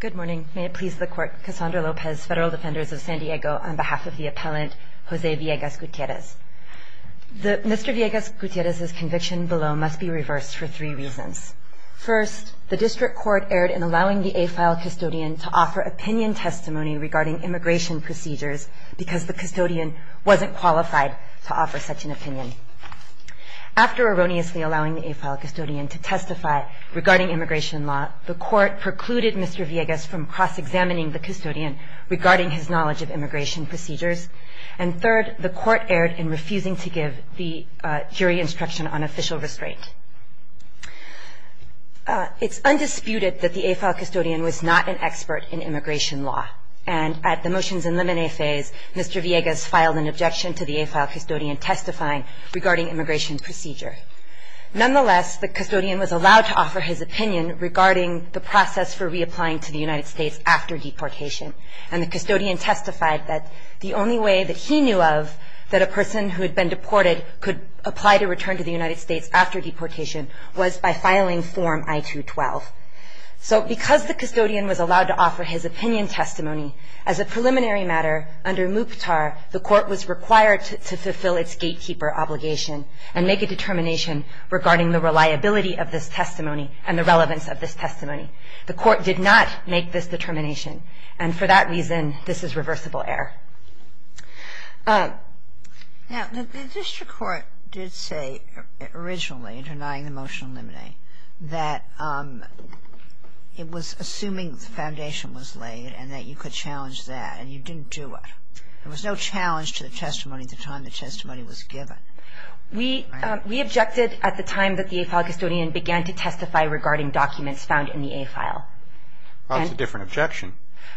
Good morning. May it please the Court, Cassandra Lopez, Federal Defenders of San Diego, on behalf of the Appellant Jose Villegas-Guitierrez. Mr. Villegas-Guitierrez's conviction below must be reversed for three reasons. First, the District Court erred in allowing the AFILE custodian to offer opinion testimony regarding immigration procedures because the custodian wasn't qualified to offer such an opinion. After erroneously allowing the AFILE custodian to testify regarding immigration law, the Court precluded Mr. Villegas from cross-examining the custodian regarding his knowledge of immigration procedures. And third, the Court erred in refusing to give the jury instruction on official restraint. It's undisputed that the AFILE custodian was not an expert in immigration law, and at the motions and limine phase, Mr. Villegas filed an objection to the AFILE custodian testifying regarding immigration procedure. Nonetheless, the custodian was allowed to offer his opinion regarding the process for reapplying to the United States after deportation, and the custodian testified that the only way that he knew of that a person who had been deported could apply to return to the United States after deportation was by filing Form I-212. So because the custodian was allowed to offer his opinion testimony, as a preliminary matter, under MUPTAR, the Court was required to fulfill its gatekeeper obligation and make a determination regarding the reliability of this testimony and the relevance of this testimony. The Court did not make this determination, and for that reason, this is reversible The District Court did say originally, in denying the motion to eliminate, that it was assuming the foundation was laid and that you could challenge that, and you didn't do it. There was no challenge to the testimony at the time the testimony was given. We objected at the time that the AFILE custodian began to testify regarding documents found in the AFILE. That's a different objection.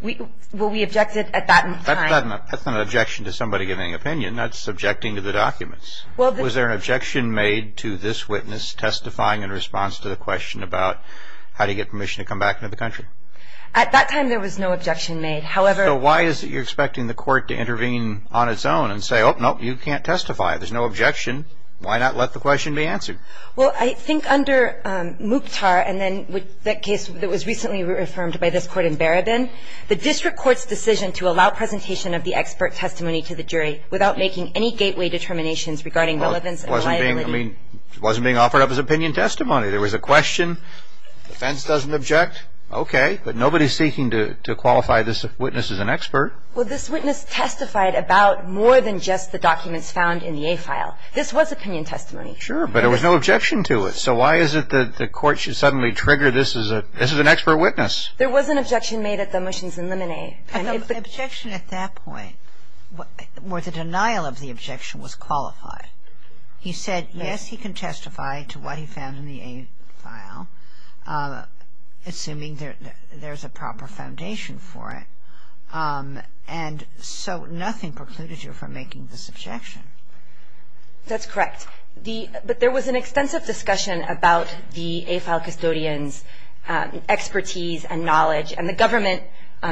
Well, we objected at that time. That's not an objection to somebody giving an opinion. That's objecting to the documents. Was there an objection made to this witness testifying in response to the question about how to get permission to come back into the country? At that time, there was no objection made. So why is it you're expecting the Court to intervene on its own and say, oh, no, you can't testify. There's no objection. Why not let the question be answered? Well, I think under Mukhtar, and then the case that was recently reaffirmed by this Court in Barabin, the District Court's decision to allow presentation of the expert testimony to the jury without making any gateway determinations regarding relevance and reliability. It wasn't being offered up as opinion testimony. There was a question. The defense doesn't object. Okay. But nobody's seeking to qualify this witness as an expert. Well, this witness testified about more than just the documents found in the AFILE. This was opinion testimony. Sure, but there was no objection to it. So why is it that the Court should suddenly trigger this as an expert witness? There was an objection made at the motions in Limine. The objection at that point where the denial of the objection was qualified. He said, yes, he can testify to what he found in the AFILE, assuming there's a proper foundation for it. And so nothing precluded you from making this objection. That's correct. But there was an extensive discussion about the AFILE custodian's expertise and knowledge and the government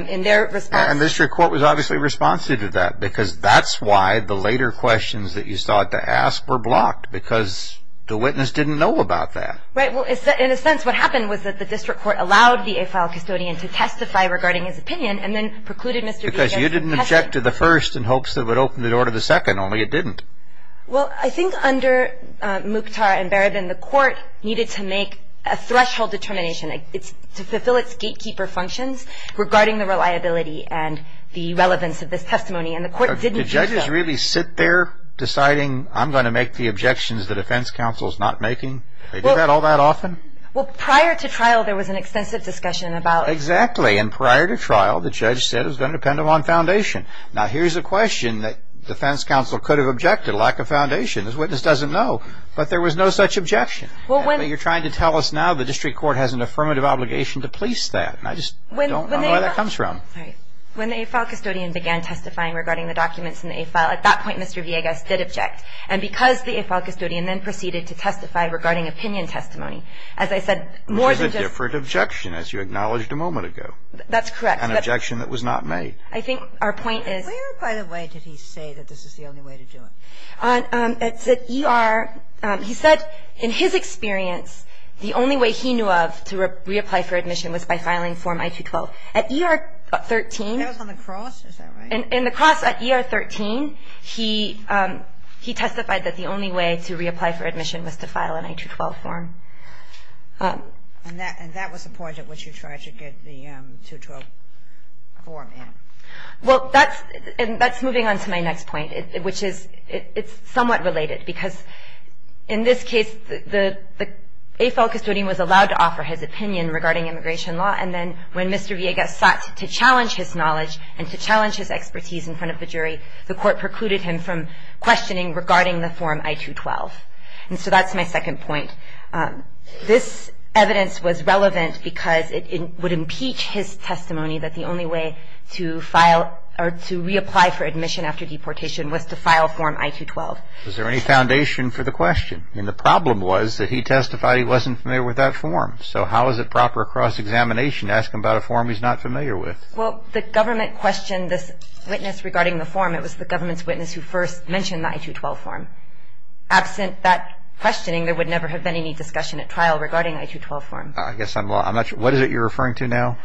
in their response. And the District Court was obviously responsive to that because that's why the later questions that you sought to ask were blocked, because the witness didn't know about that. Right. Well, in a sense, what happened was that the District Court allowed the AFILE custodian to testify regarding his opinion and then precluded Mr. B. against testing. Because you didn't object to the first in hopes that it would open the door to the second, only it didn't. Well, I think under Mukhtar and Barabin, the court needed to make a threshold determination to fulfill its gatekeeper functions regarding the reliability and the relevance of this testimony. And the court didn't do so. Did judges really sit there deciding, I'm going to make the objections the defense counsel is not making? They do that all that often? Well, prior to trial, there was an extensive discussion about it. Exactly. And prior to trial, the judge said it was going to depend upon foundation. Now, here's a question that defense counsel could have objected, lack of foundation. This witness doesn't know. But there was no such objection. You're trying to tell us now the District Court has an affirmative obligation to police that. I just don't know where that comes from. When the AFILE custodian began testifying regarding the documents in the AFILE, at that point, Mr. Villegas did object. And because the AFILE custodian then proceeded to testify regarding opinion testimony, as I said, more than just Which is a different objection, as you acknowledged a moment ago. That's correct. An objection that was not made. I think our point is Where, by the way, did he say that this is the only way to do it? At ER, he said in his experience, the only way he knew of to reapply for admission was by filing Form I-212. At ER-13 That was on the cross? Is that right? In the cross at ER-13, he testified that the only way to reapply for admission was to file an I-212 form. And that was the point at which you tried to get the I-212 form in. Well, that's moving on to my next point, which is somewhat related. Because in this case, the AFILE custodian was allowed to offer his opinion regarding immigration law. And then when Mr. Villegas sought to challenge his knowledge and to challenge his expertise in front of the jury, the court precluded him from questioning regarding the Form I-212. And so that's my second point. This evidence was relevant because it would impeach his testimony that the only way to file or to reapply for admission after deportation was to file Form I-212. Is there any foundation for the question? I mean, the problem was that he testified he wasn't familiar with that form. So how is it proper across examination to ask him about a form he's not familiar with? Well, the government questioned this witness regarding the form. It was the government's witness who first mentioned the I-212 form. Absent that questioning, there would never have been any discussion at trial regarding the I-212 form. I guess I'm not sure. What is it you're referring to now?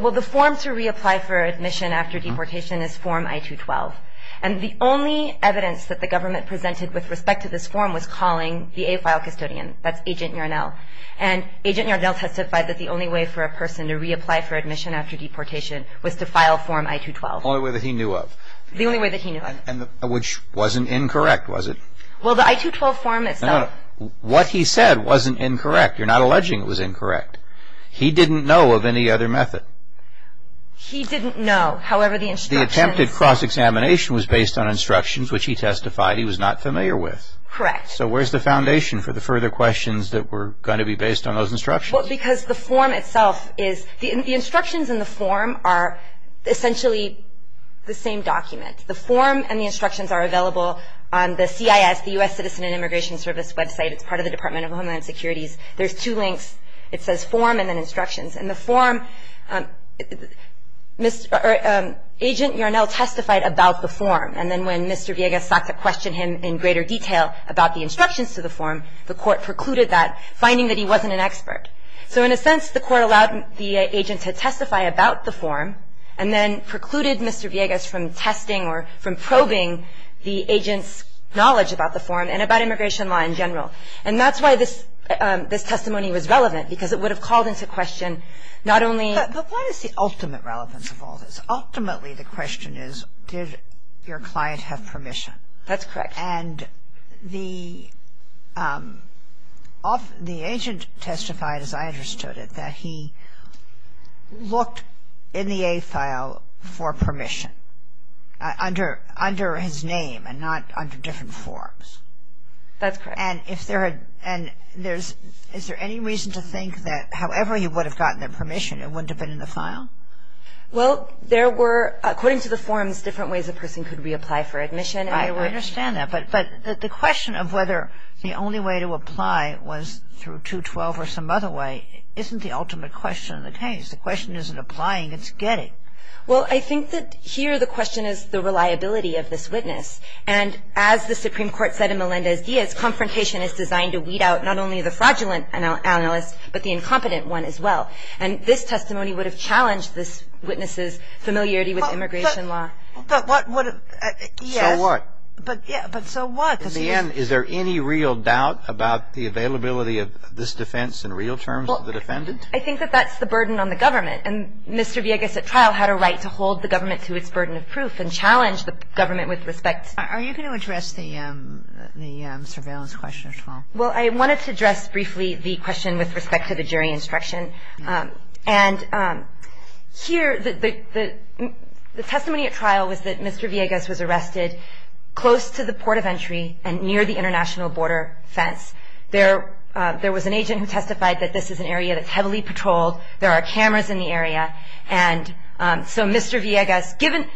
Well, the form to reapply for admission after deportation is Form I-212. And the only evidence that the government presented with respect to this form was calling the AFILE custodian. That's Agent Yornel. And Agent Yornel testified that the only way for a person to reapply for admission after deportation was to file Form I-212. The only way that he knew of. The only way that he knew of. Which wasn't incorrect, was it? Well, the I-212 form itself. What he said wasn't incorrect. You're not alleging it was incorrect. He didn't know of any other method. He didn't know. However, the instructions. The attempted cross-examination was based on instructions which he testified he was not familiar with. Correct. So where's the foundation for the further questions that were going to be based on those instructions? Well, because the form itself is... The instructions in the form are essentially the same document. The form and the instructions are available on the CIS, the U.S. Citizen and Immigration Service website. It's part of the Department of Homeland Security's... There's two links. It says form and then instructions. In the form, Agent Yornel testified about the form. And then when Mr. Villegas sought to question him in greater detail about the instructions to the form, the court precluded that, finding that he wasn't an expert. And that's why this testimony was relevant, because it would have called into question not only... But what is the ultimate relevance of all this? Ultimately, the question is, did your client have permission? That's correct. And the agent testified, as I understood it, that he looked in the agent's eyes and said, for permission, under his name and not under different forms. That's correct. And if there had... And there's... Is there any reason to think that however he would have gotten that permission, it wouldn't have been in the file? Well, there were, according to the forms, different ways a person could reapply for admission. I understand that. But the question of whether the only way to apply was through 212 or some other way isn't the ultimate question of the case. The question isn't applying, it's getting. Well, I think that here the question is the reliability of this witness. And as the Supreme Court said in Melendez-Diaz, confrontation is designed to weed out not only the fraudulent analyst, but the incompetent one as well. And this testimony would have challenged this witness's familiarity with immigration law. But what... Yes. So what? But so what? In the end, is there any real doubt about the availability of this defense in real terms to the defendant? I think that that's the burden on the government. And Mr. Villegas at trial had a right to hold the government to its burden of proof and challenge the government with respect... Are you going to address the surveillance question as well? Well, I wanted to address briefly the question with respect to the jury instruction. And here the testimony at trial was that Mr. Villegas was arrested close to the port of entry and near the international border fence. There was an agent who testified that this is an area that's heavily patrolled. There are cameras in the area. And so Mr. Villegas, given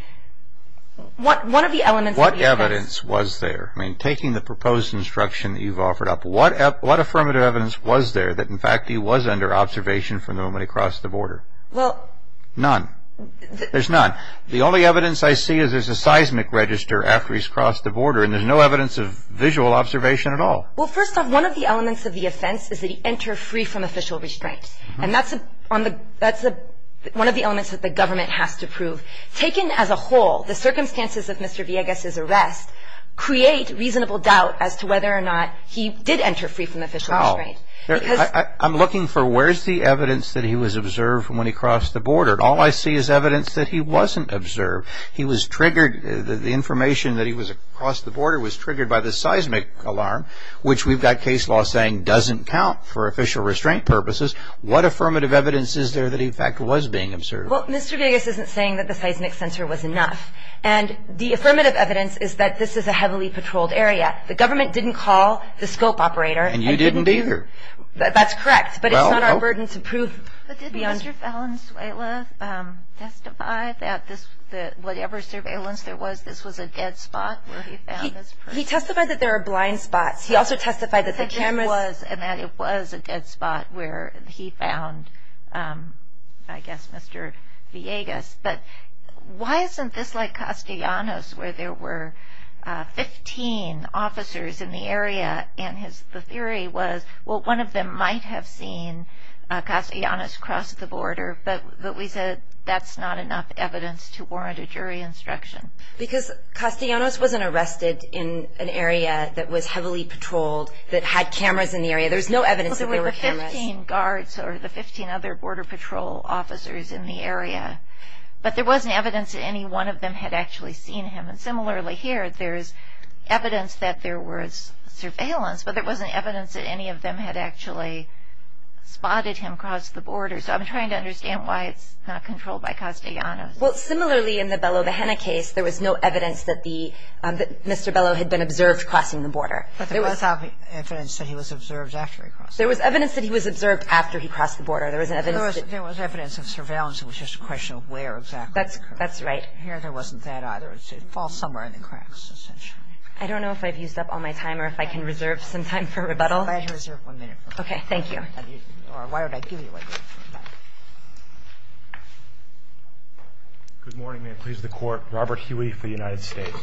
one of the elements of Villegas... What evidence was there? I mean, taking the proposed instruction that you've offered up, what affirmative evidence was there that, in fact, he was under observation from the moment he crossed the border? Well... None. There's none. The only evidence I see is there's a seismic register after he's crossed the border, and there's no evidence of visual observation at all. Well, first off, one of the elements of the offense is that he entered free from official restraint. And that's one of the elements that the government has to prove. Taken as a whole, the circumstances of Mr. Villegas' arrest create reasonable doubt as to whether or not he did enter free from official restraint. I'm looking for where's the evidence that he was observed from when he crossed the border. All I see is evidence that he wasn't observed. He was triggered... The information that he was across the border was triggered by the seismic alarm, which we've got case law saying doesn't count for official restraint purposes. What affirmative evidence is there that he, in fact, was being observed? Well, Mr. Villegas isn't saying that the seismic sensor was enough. And the affirmative evidence is that this is a heavily patrolled area. The government didn't call the scope operator. And you didn't either. That's correct, but it's not our burden to prove... He testified that whatever surveillance there was, this was a dead spot where he found this person. He testified that there are blind spots. He also testified that the cameras... And that it was a dead spot where he found, I guess, Mr. Villegas. But why isn't this like Castellanos, where there were 15 officers in the area, and the theory was, well, one of them might have seen Castellanos cross the border, but we said that's not enough evidence to warrant a jury instruction. Because Castellanos wasn't arrested in an area that was heavily patrolled, that had cameras in the area. There's no evidence that there were cameras. Well, there were 15 guards, or the 15 other Border Patrol officers in the area. But there wasn't evidence that any one of them had actually seen him. And similarly here, there's evidence that there was surveillance, but there wasn't evidence that any of them had actually spotted him cross the border. So I'm trying to understand why it's not controlled by Castellanos. Well, similarly in the Bello-Bahena case, there was no evidence that Mr. Bello had been observed crossing the border. But there was evidence that he was observed after he crossed the border. There was evidence that he was observed after he crossed the border. There wasn't evidence that... There was evidence of surveillance. It was just a question of where exactly. That's right. Here, there wasn't that either. It falls somewhere in the cracks, essentially. I don't know if I've used up all my time or if I can reserve some time for rebuttal. You have to reserve one minute. Thank you. Or why would I give you a minute? Good morning. May it please the Court. Robert Huey for the United States.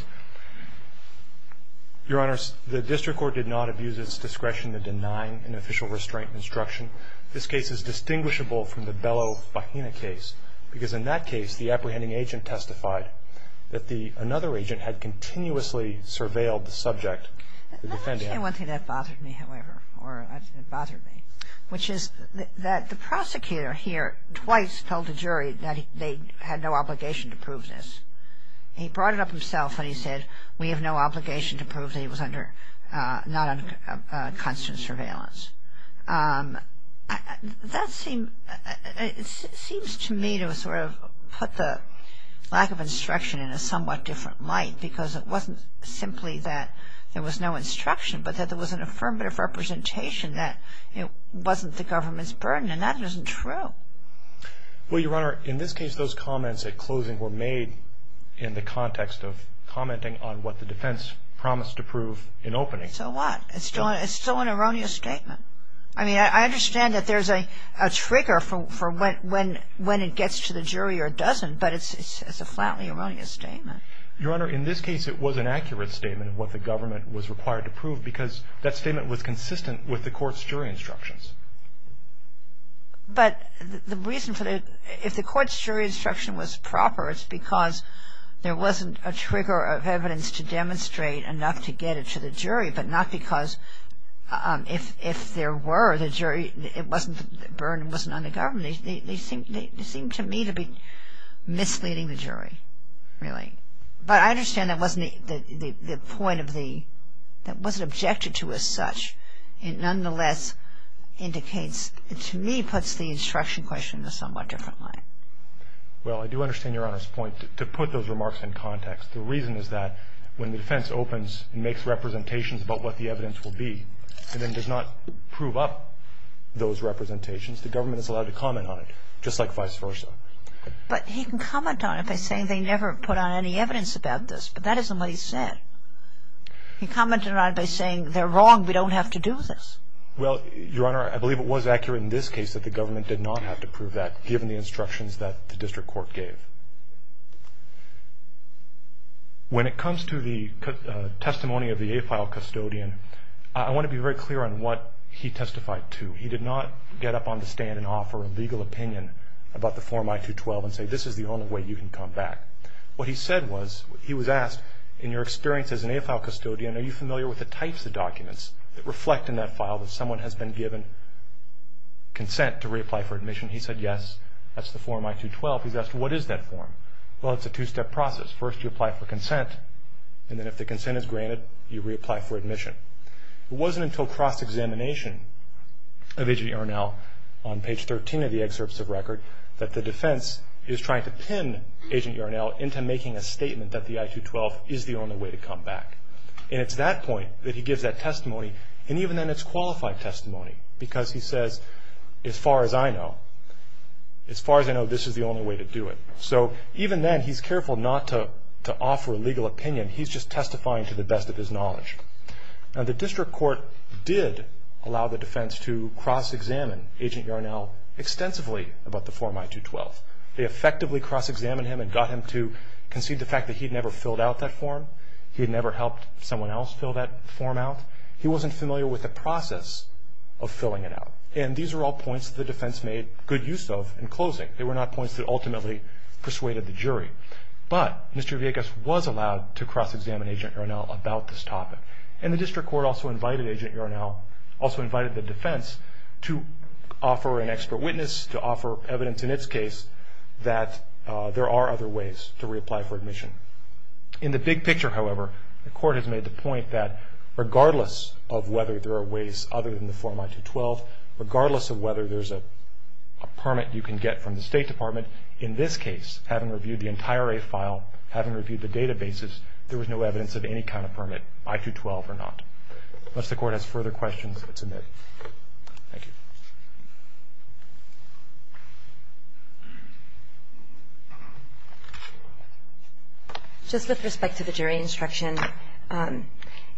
Your Honors, the district court did not abuse its discretion in denying an official restraint instruction. This case is distinguishable from the Bello-Bahena case because in that case the apprehending agent testified that another agent had continuously surveilled the subject. Let me say one thing that bothered me, however, or it bothered me, which is that the prosecutor here twice told the jury that they had no obligation to prove this. He brought it up himself and he said, we have no obligation to prove that he was not under constant surveillance. That seems to me to have sort of put the lack of instruction in a somewhat different light because it wasn't simply that there was no instruction, but that there was an affirmative representation that it wasn't the government's burden, and that isn't true. Well, Your Honor, in this case those comments at closing were made in the context of commenting on what the defense promised to prove in opening. So what? It's still an erroneous statement. I mean, I understand that there's a trigger for when it gets to the jury or it doesn't, but it's a flatly erroneous statement. Your Honor, in this case it was an accurate statement of what the government was required to prove because that statement was consistent with the court's jury instructions. But the reason for the – if the court's jury instruction was proper, it's because there wasn't a trigger of evidence to demonstrate enough to get it to the jury, but not because if there were, the jury – it wasn't – the burden wasn't on the government. They seem to me to be misleading the jury, really. But I understand that wasn't the point of the – that wasn't objected to as such. It nonetheless indicates – to me puts the instruction question in a somewhat different light. Well, I do understand Your Honor's point to put those remarks in context. The reason is that when the defense opens and makes representations about what the evidence will be and then does not prove up those representations, the government is allowed to comment on it, just like vice versa. But he can comment on it by saying they never put on any evidence about this, but that isn't what he said. He commented on it by saying they're wrong, we don't have to do this. Well, Your Honor, I believe it was accurate in this case that the government did not have to prove that given the instructions that the district court gave. When it comes to the testimony of the AFILE custodian, I want to be very clear on what he testified to. He did not get up on the stand and offer a legal opinion about the Form I-212 and say this is the only way you can come back. What he said was – he was asked, in your experience as an AFILE custodian, are you familiar with the types of documents that reflect in that file that someone has been given consent to reapply for admission? He said, yes, that's the Form I-212. He was asked, what is that form? Well, it's a two-step process. First you apply for consent, and then if the consent is granted, you reapply for admission. It wasn't until cross-examination of Agent Urinell on page 13 of the excerpts of record that the defense is trying to pin Agent Urinell into making a statement that the I-212 is the only way to come back. And it's at that point that he gives that testimony, and even then it's qualified testimony because he says, as far as I know, this is the only way to do it. So even then he's careful not to offer a legal opinion. He's just testifying to the best of his knowledge. Now, the district court did allow the defense to cross-examine Agent Urinell extensively about the Form I-212. They effectively cross-examined him and got him to concede the fact that he had never filled out that form. He had never helped someone else fill that form out. He wasn't familiar with the process of filling it out. And these are all points that the defense made good use of in closing. They were not points that ultimately persuaded the jury. But Mr. Villegas was allowed to cross-examine Agent Urinell about this topic. And the district court also invited Agent Urinell, also invited the defense, to offer an expert witness, to offer evidence in its case, that there are other ways to reapply for admission. In the big picture, however, the court has made the point that, regardless of whether there are ways other than the Form I-212, regardless of whether there's a permit you can get from the State Department, in this case, having reviewed the entire A file, having reviewed the databases, there was no evidence of any kind of permit, I-212 or not. Unless the Court has further questions, it's admitted. Thank you. Just with respect to the jury instruction,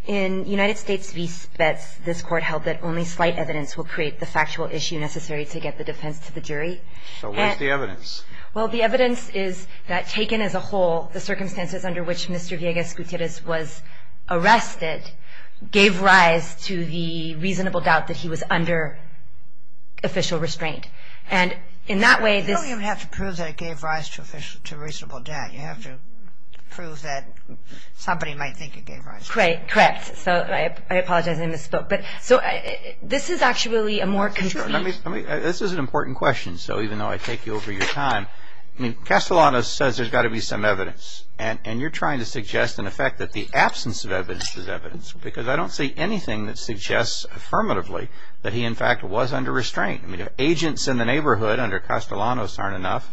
in United States v. Spetz, this Court held that only slight evidence will create the factual issue necessary to get the defense to the jury. So what's the evidence? Well, the evidence is that, taken as a whole, the circumstances under which Mr. Villegas Gutierrez was arrested gave rise to the reasonable doubt that he was under official restraint. And in that way, this… You don't even have to prove that it gave rise to reasonable doubt. You have to prove that somebody might think it gave rise to it. Correct. So I apologize, I misspoke. So this is actually a more concrete… This is an important question, so even though I take you over your time, I mean, Castellanos says there's got to be some evidence, and you're trying to suggest, in effect, that the absence of evidence is evidence, because I don't see anything that suggests affirmatively that he, in fact, was under restraint. Agents in the neighborhood under Castellanos aren't enough.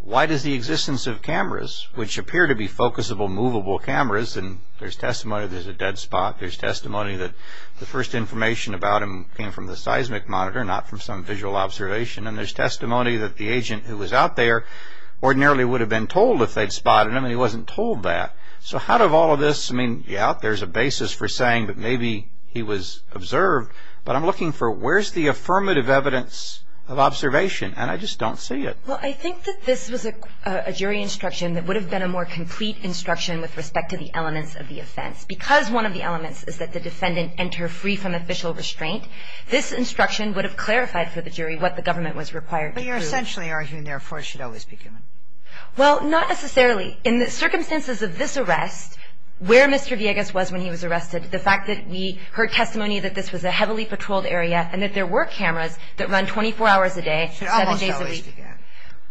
Why does the existence of cameras, which appear to be focusable, movable cameras, and there's testimony there's a dead spot, there's testimony that the first information about him came from the seismic monitor, not from some visual observation, and there's testimony that the agent who was out there ordinarily would have been told if they'd spotted him, and he wasn't told that. So how do all of this… I mean, yeah, there's a basis for saying that maybe he was observed, but I'm looking for where's the affirmative evidence of observation, and I just don't see it. Well, I think that this was a jury instruction that would have been a more complete instruction with respect to the elements of the offense, because one of the elements is that the defendant enter free from official restraint. This instruction would have clarified for the jury what the government was required to do. But you're essentially arguing, therefore, it should always be given. Well, not necessarily. In the circumstances of this arrest, where Mr. Villegas was when he was arrested, the fact that we heard testimony that this was a heavily patrolled area and that there were cameras that run 24 hours a day, seven days a week. It should almost always be given.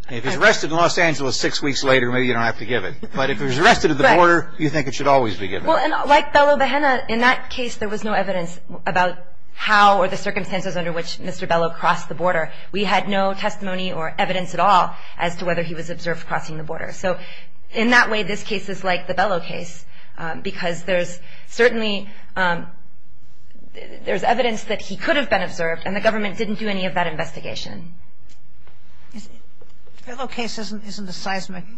If he's arrested in Los Angeles six weeks later, maybe you don't have to give it. But if he was arrested at the border, you think it should always be given. Well, and like Bellow-Bahena, in that case, there was no evidence about how or the circumstances under which Mr. Bellow crossed the border. We had no testimony or evidence at all as to whether he was observed crossing the border. So in that way, this case is like the Bellow case, because there's certainly – there's evidence that he could have been observed, and the government didn't do any of that investigation. The Bellow case isn't a seismic –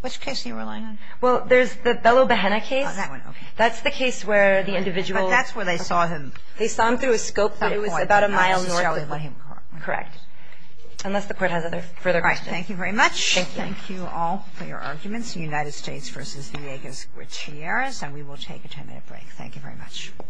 which case are you relying on? Well, there's the Bellow-Bahena case. Oh, that one. Okay. That's the case where the individual – But that's where they saw him. They saw him through a scope that was about a mile north of him. Correct. Unless the Court has other – further questions. All right. Thank you very much. Thank you. Thank you all for your arguments. United States v. Villegas Gutierrez, and we will take a 10-minute break. Thank you very much.